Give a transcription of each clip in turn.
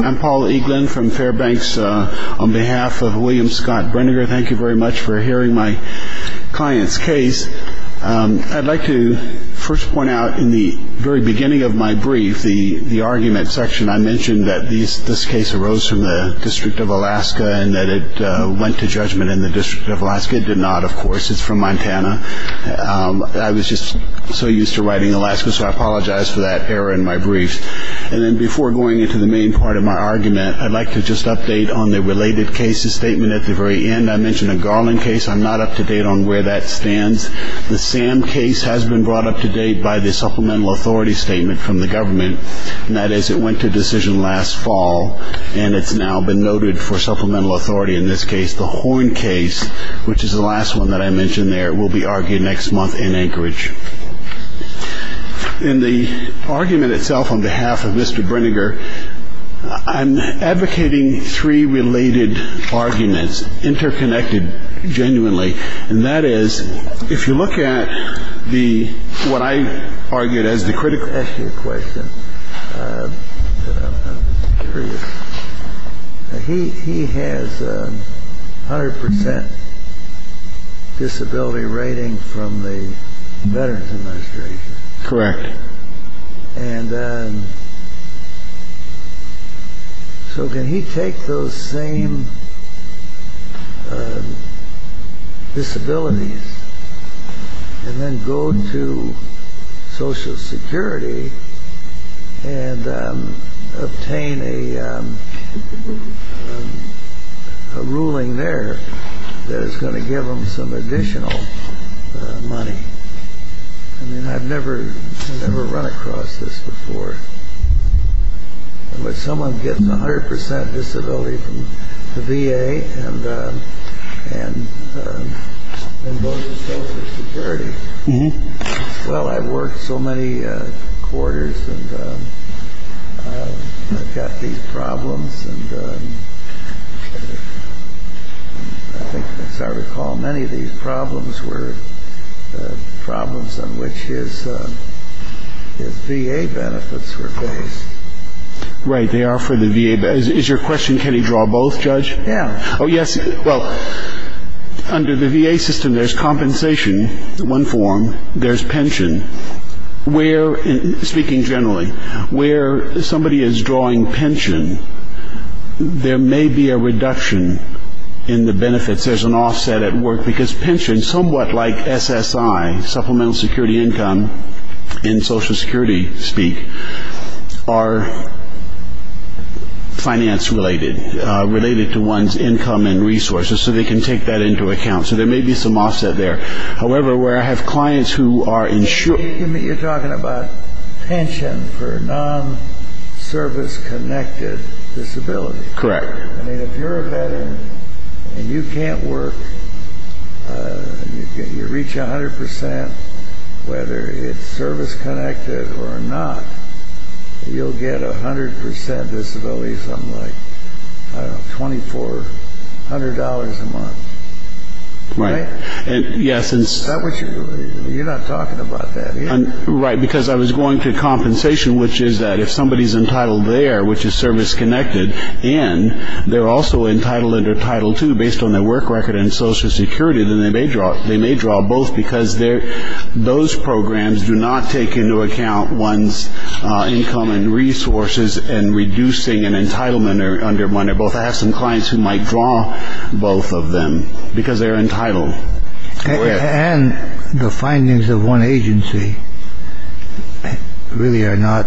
I'm Paul Eaglin from Fairbanks. On behalf of William Scott Brinegar, thank you very much for hearing my client's case. I'd like to first point out in the very beginning of my brief the argument section. I mentioned that this case arose from the District of Alaska and that it went to judgment in the District of Alaska. It did not, of course. It's from Montana. I was just so used to writing Alaska, so I apologize for that error in my brief. And then before going into the main part of my argument, I'd like to just update on the related cases statement at the very end. I mentioned a Garland case. I'm not up to date on where that stands. The Sam case has been brought up to date by the supplemental authority statement from the government, and that is it went to decision last fall and it's now been noted for supplemental authority in this case. The Horn case, which is the last one that I mentioned there, will be argued next month in Anchorage. In the argument itself, on behalf of Mr. Brinegar, I'm advocating three related arguments interconnected genuinely. And that is, if you look at the what I argued as the critical issue question. I'm curious. He has a hundred percent disability rating from the Veterans Administration. Correct. And so can he take those same disabilities and then go to Social Security and obtain a ruling there that is going to give him some additional money? I mean, I've never ever run across this before. But someone gets a hundred percent disability from the V.A. and. And. Well, I've worked so many quarters and I've got these problems. As I recall, many of these problems were problems on which his V.A. benefits were based. Right. They are for the V.A. Is your question. Can you draw both, Judge? Yeah. Oh, yes. Well, under the V.A. system, there's compensation in one form. There's pension. Speaking generally, where somebody is drawing pension, there may be a reduction in the benefits. There's an offset at work because pension, somewhat like SSI, Supplemental Security Income in Social Security speak, are finance related, related to one's income and resources. So they can take that into account. So there may be some offset there. However, where I have clients who are insured. You're talking about pension for non-service connected disability. Correct. I mean, if you're a veteran and you can't work, you reach a hundred percent, whether it's service connected or not, you'll get a hundred percent disability, something like $2,400 a month. Right. Yes. You're not talking about that. Right. Because I was going to compensation, which is that if somebody is entitled there, which is service connected, and they're also entitled under Title II based on their work record in Social Security, then they may draw both because those programs do not take into account one's income and resources and reducing an entitlement under one or both. I have some clients who might draw both of them because they're entitled. And the findings of one agency really are not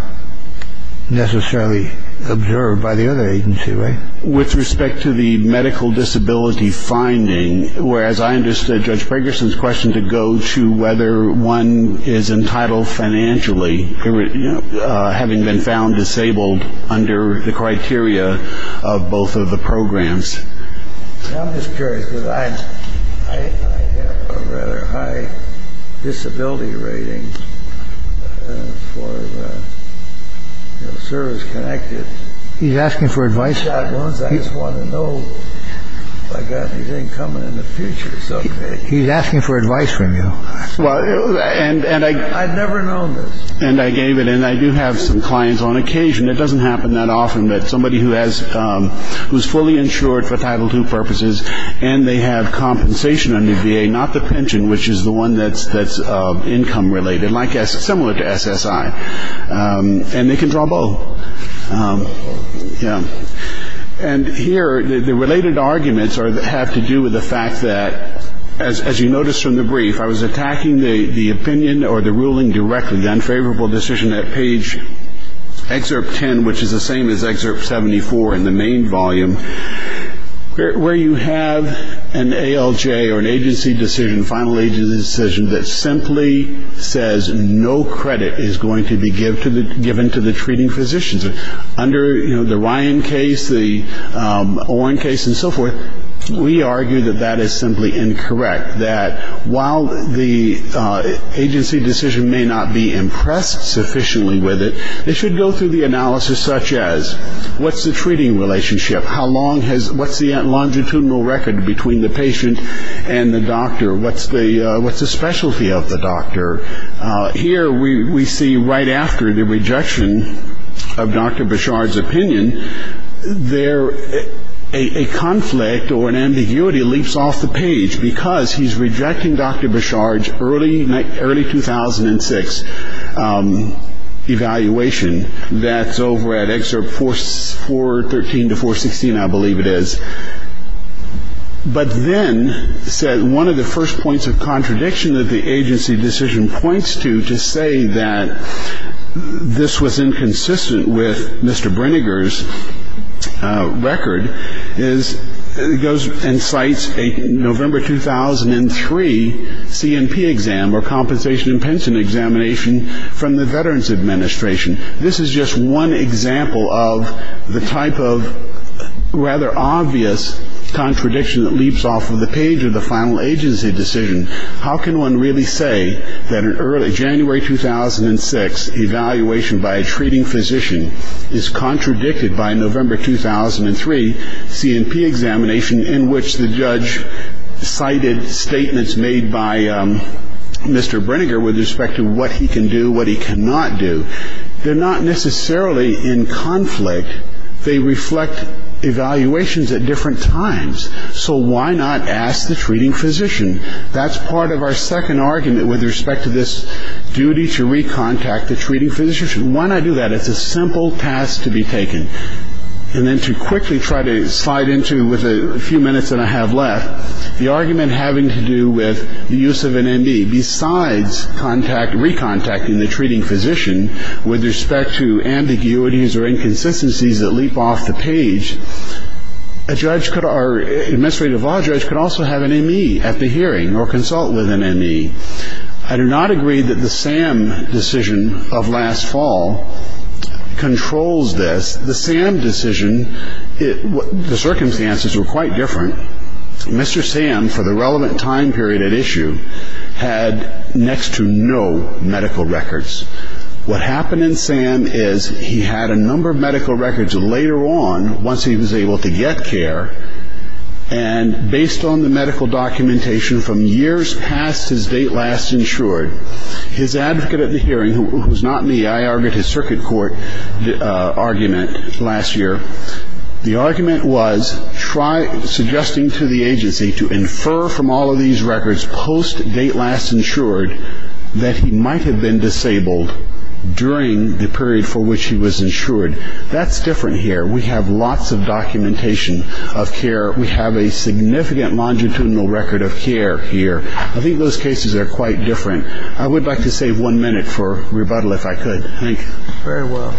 necessarily observed by the other agency. Right. With respect to the medical disability finding. Whereas I understood Judge Ferguson's question to go to whether one is entitled financially, having been found disabled under the criteria of both of the programs. I'm just curious because I have a rather high disability rating for service connected. He's asking for advice. I just want to know if I've got anything coming in the future. He's asking for advice from you. Well, and I never know. And I gave it and I do have some clients on occasion. It doesn't happen that often that somebody who has who's fully insured for Title II purposes and they have compensation under VA, not the pension, which is the one that's that's income related, like as similar to SSI and they can draw both. Yeah. And here the related arguments are that have to do with the fact that as you notice from the brief, if I was attacking the opinion or the ruling directly, the unfavorable decision at page excerpt 10, which is the same as excerpt 74 in the main volume, where you have an ALJ or an agency decision, final agency decision that simply says no credit is going to be given to the treating physicians under the Ryan case, the Owen case and so forth. We argue that that is simply incorrect, that while the agency decision may not be impressed sufficiently with it, they should go through the analysis such as what's the treating relationship? How long has what's the longitudinal record between the patient and the doctor? What's the what's the specialty of the doctor? Here we see right after the rejection of Dr. Bishard's opinion, there a conflict or an ambiguity leaps off the page because he's rejecting Dr. Bishard's early, early 2006 evaluation that's over at excerpt four, four, 13 to 416, I believe it is. But then one of the first points of contradiction that the agency decision points to to say that this was inconsistent with Mr. Brinegar's record is it goes and cites a November 2003 C&P exam or compensation and pension examination from the Veterans Administration. This is just one example of the type of rather obvious contradiction that leaps off of the page of the final agency decision. How can one really say that an early January 2006 evaluation by a treating physician is contradicted by a November 2003 C&P examination in which the judge cited statements made by Mr. Brinegar with respect to what he can do, what he cannot do? They're not necessarily in conflict. They reflect evaluations at different times. So why not ask the treating physician? That's part of our second argument with respect to this duty to recontact the treating physician. Why not do that? It's a simple task to be taken. And then to quickly try to slide into with a few minutes that I have left, the argument having to do with the use of an M.E. besides contact, recontacting the treating physician with respect to ambiguities or inconsistencies that leap off the page, a judge could or administrative law judge could also have an M.E. at the hearing or consult with an M.E. I do not agree that the SAM decision of last fall controls this. The SAM decision, the circumstances were quite different. Mr. SAM, for the relevant time period at issue, had next to no medical records. What happened in SAM is he had a number of medical records later on, once he was able to get care, and based on the medical documentation from years past his date last insured, his advocate at the hearing, who is not me, I argued his circuit court argument last year. The argument was suggesting to the agency to infer from all of these records post-date last insured that he might have been disabled during the period for which he was insured. That's different here. We have lots of documentation of care. We have a significant longitudinal record of care here. I think those cases are quite different. I would like to save one minute for rebuttal if I could. Thank you. Thank you very well.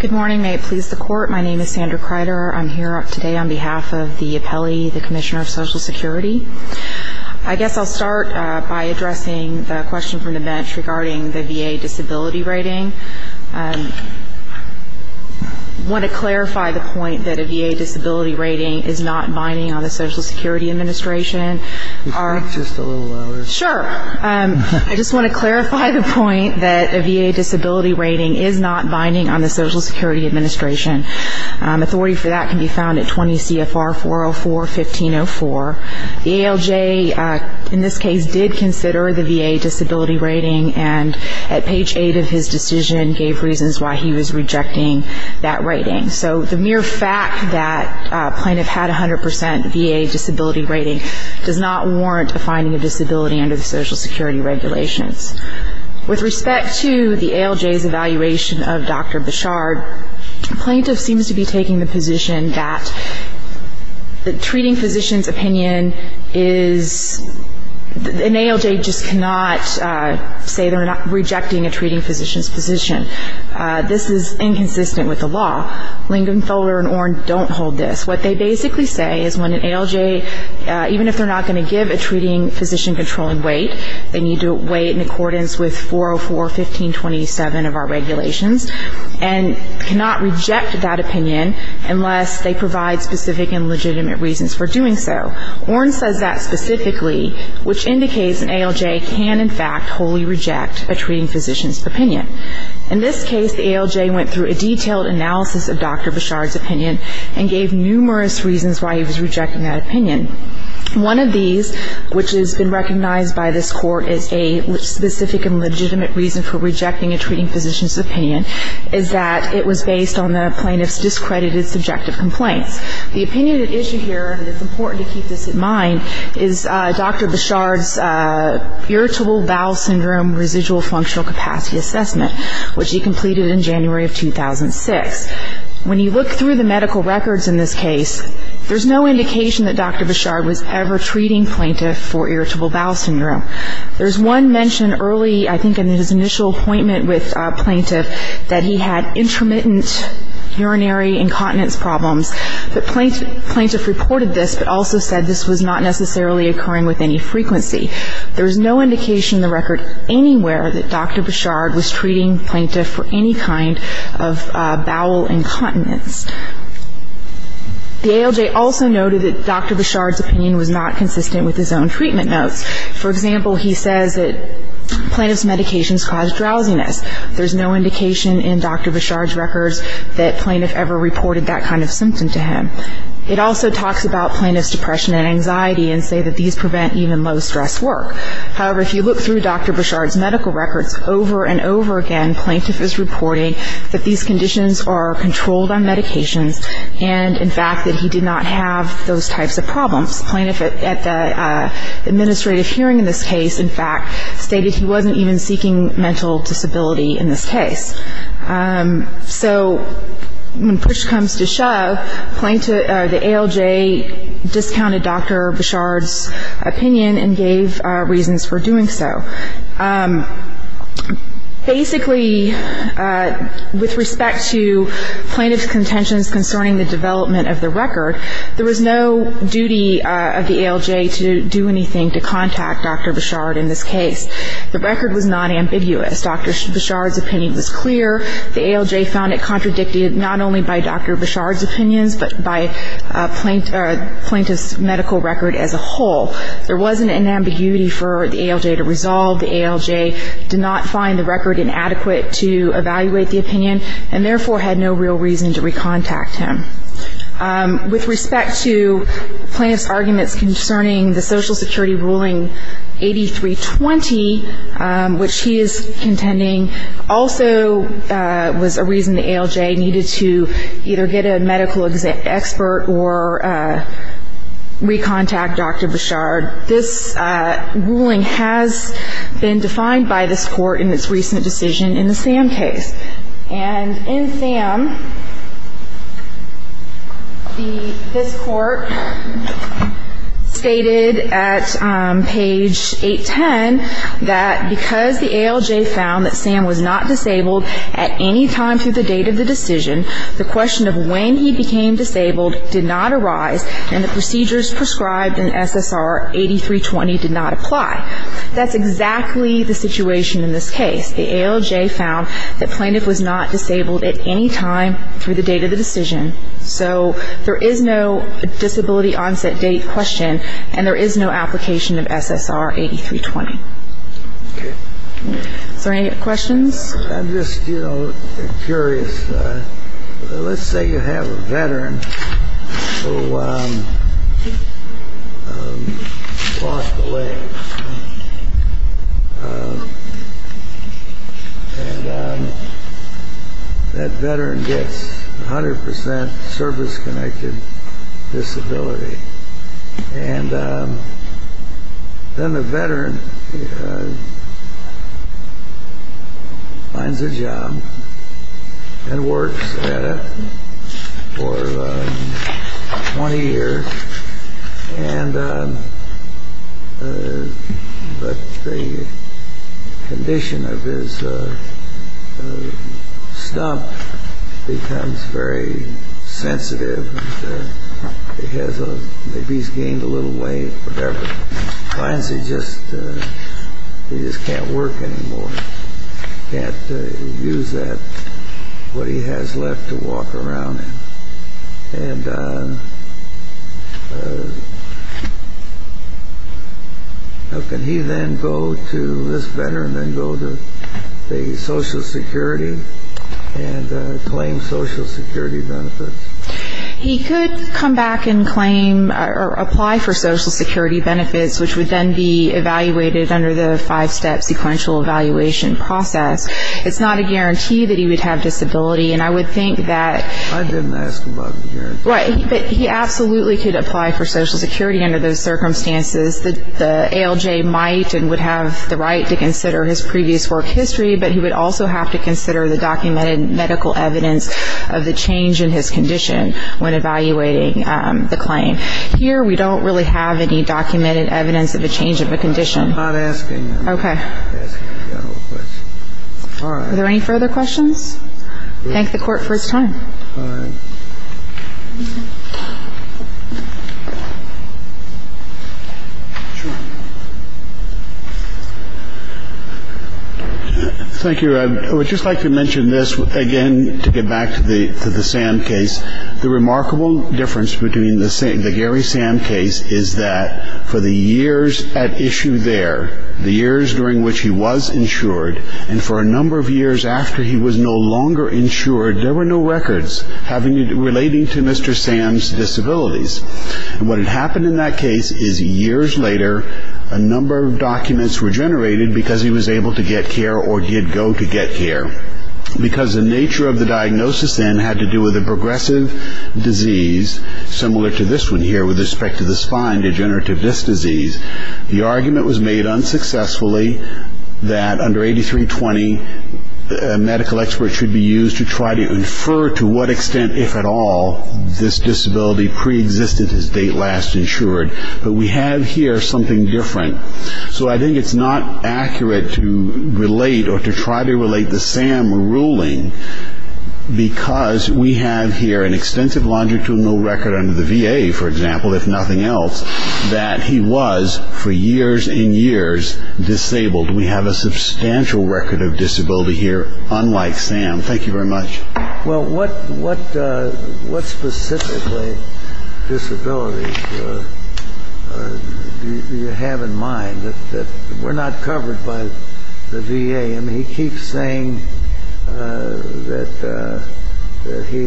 Good morning. May it please the Court. My name is Sandra Kreider. I'm here today on behalf of the appellee, the Commissioner of Social Security. I guess I'll start by addressing the question from the bench regarding the VA disability rating. I want to clarify the point that a VA disability rating is not binding on the Social Security Administration. Could you speak just a little louder? Sure. I just want to clarify the point that a VA disability rating is not binding on the Social Security Administration. Authority for that can be found at 20 CFR 404-1504. The ALJ in this case did consider the VA disability rating, and at page 8 of his decision gave reasons why he was rejecting that rating. So the mere fact that a plaintiff had a 100% VA disability rating does not warrant a finding of disability under the Social Security regulations. With respect to the ALJ's evaluation of Dr. Bichard, plaintiff seems to be taking the position that the treating physician's opinion is, an ALJ just cannot say they're not rejecting a treating physician's position. This is inconsistent with the law. Lingenfelder and Orn don't hold this. What they basically say is when an ALJ, even if they're not going to give a treating physician controlling weight, they need to weigh it in accordance with 404-1527 of our regulations. And cannot reject that opinion unless they provide specific and legitimate reasons for doing so. Orn says that specifically, which indicates an ALJ can, in fact, wholly reject a treating physician's opinion. In this case, the ALJ went through a detailed analysis of Dr. Bichard's opinion and gave numerous reasons why he was rejecting that opinion. One of these, which has been recognized by this Court as a specific and legitimate reason for rejecting a treating physician's opinion, is that it was based on the plaintiff's discredited subjective complaints. The opinion at issue here, and it's important to keep this in mind, is Dr. Bichard's Irritable Bowel Syndrome Residual Functional Capacity Assessment, which he completed in January of 2006. When you look through the medical records in this case, there's no indication that Dr. Bichard was ever treating plaintiff for Irritable Bowel Syndrome. There's one mention early, I think in his initial appointment with plaintiff, that he had intermittent urinary incontinence problems. The plaintiff reported this, but also said this was not necessarily occurring with any frequency. There's no indication in the record anywhere that Dr. Bichard was treating plaintiff for any kind of bowel incontinence. The ALJ also noted that Dr. Bichard's opinion was not consistent with his own treatment notes. For example, he says that plaintiff's medications cause drowsiness. There's no indication in Dr. Bichard's records that plaintiff ever reported that kind of symptom to him. It also talks about plaintiff's depression and anxiety, and say that these prevent even low-stress work. However, if you look through Dr. Bichard's medical records over and over again, plaintiff is reporting that these conditions are controlled on medications, and, in fact, that he did not have those types of problems. Plaintiff at the administrative hearing in this case, in fact, stated he wasn't even seeking mental disability in this case. So when push comes to shove, the ALJ discounted Dr. Bichard's opinion and gave reasons for doing so. Basically, with respect to plaintiff's contentions concerning the development of the record, there was no duty of the ALJ to do anything to contact Dr. Bichard in this case. The record was not ambiguous. Dr. Bichard's opinion was clear. The ALJ found it contradicted not only by Dr. Bichard's opinions, but by plaintiff's medical record as a whole. There wasn't an ambiguity for the ALJ to resolve. The ALJ did not find the record inadequate to evaluate the opinion, and therefore had no real reason to recontact him. With respect to plaintiff's arguments concerning the Social Security ruling 8320, which he is contending, also was a reason the ALJ needed to either get a medical expert or recontact Dr. Bichard. This ruling has been defined by this Court in its recent decision in the Sam case. And in Sam, this Court stated at page 810 that because the ALJ found that Sam was not disabled at any time through the date of the decision, the question of when he became disabled did not arise, and the procedures prescribed in SSR 8320 did not apply. That's exactly the situation in this case. The ALJ found that plaintiff was not disabled at any time through the date of the decision. So there is no disability onset date question, and there is no application of SSR 8320. Is there any questions? I'm just, you know, curious. Let's say you have a veteran who lost a leg, and that veteran gets 100 percent service-connected disability. And then the veteran finds a job and works at it for 20 years, but the condition of his stump becomes very sensitive. Maybe he's gained a little weight, whatever. He finds he just can't work anymore, can't use what he has left to walk around in. And can he then go to this veteran and go to the Social Security and claim Social Security benefits? He could come back and claim or apply for Social Security benefits, which would then be evaluated under the five-step sequential evaluation process. It's not a guarantee that he would have disability, and I would think that I didn't ask about the guarantee. Right. But he absolutely could apply for Social Security under those circumstances. The ALJ might and would have the right to consider his previous work history, but he would also have to consider the documented medical evidence of the change in his condition when evaluating the claim. Here, we don't really have any documented evidence of a change of a condition. I'm not asking. Okay. I'm not asking the general question. All right. Are there any further questions? Thank the Court for its time. All right. Thank you. I would just like to mention this again to get back to the Sam case. The remarkable difference between the Gary Sam case is that for the years at issue there, the years during which he was insured, and for a number of years after he was no longer insured, there were no records relating to Mr. Sam's disabilities. And what had happened in that case is years later, a number of documents were generated because he was able to get care or did go to get care. Because the nature of the diagnosis then had to do with a progressive disease, similar to this one here with respect to the spine, degenerative disc disease, the argument was made unsuccessfully that under 8320, a medical expert should be used to try to infer to what extent, if at all, this disability preexisted his date last insured. But we have here something different. So I think it's not accurate to relate or to try to relate the Sam ruling, because we have here an extensive longitudinal record under the VA, for example, if nothing else, that he was for years and years disabled. We have a substantial record of disability here, unlike Sam. Thank you very much. Well, what specifically disabilities do you have in mind? We're not covered by the VA. I mean, he keeps saying that he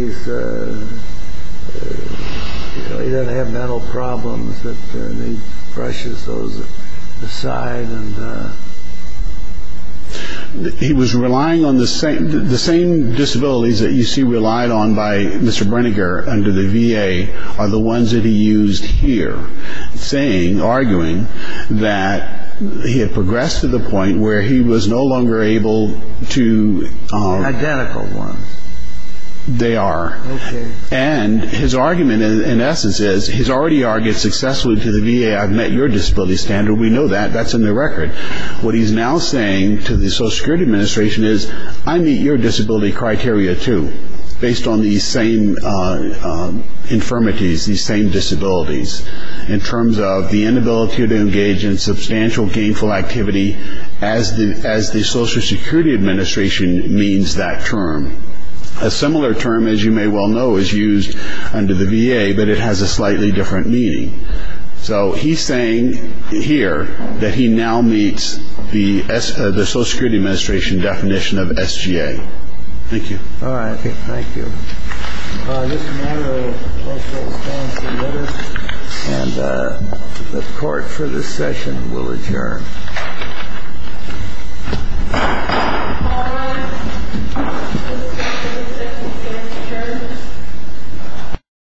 doesn't have mental problems and he brushes those aside. He was relying on the same disabilities that you see relied on by Mr. Brinegar under the VA are the ones that he used here, saying, arguing, that he had progressed to the point where he was no longer able to. Identical ones. They are. And his argument, in essence, is he's already argued successfully to the VA. I've met your disability standard. We know that. That's in the record. What he's now saying to the Social Security Administration is, I meet your disability criteria, too, based on these same infirmities, these same disabilities, in terms of the inability to engage in substantial gainful activity as the Social Security Administration means that term. A similar term, as you may well know, is used under the VA, but it has a slightly different meaning. So he's saying here that he now meets the Social Security Administration definition of SGA. Thank you. All right. Thank you. Mr. Monroe also stands to notice. And the Court for this session will adjourn.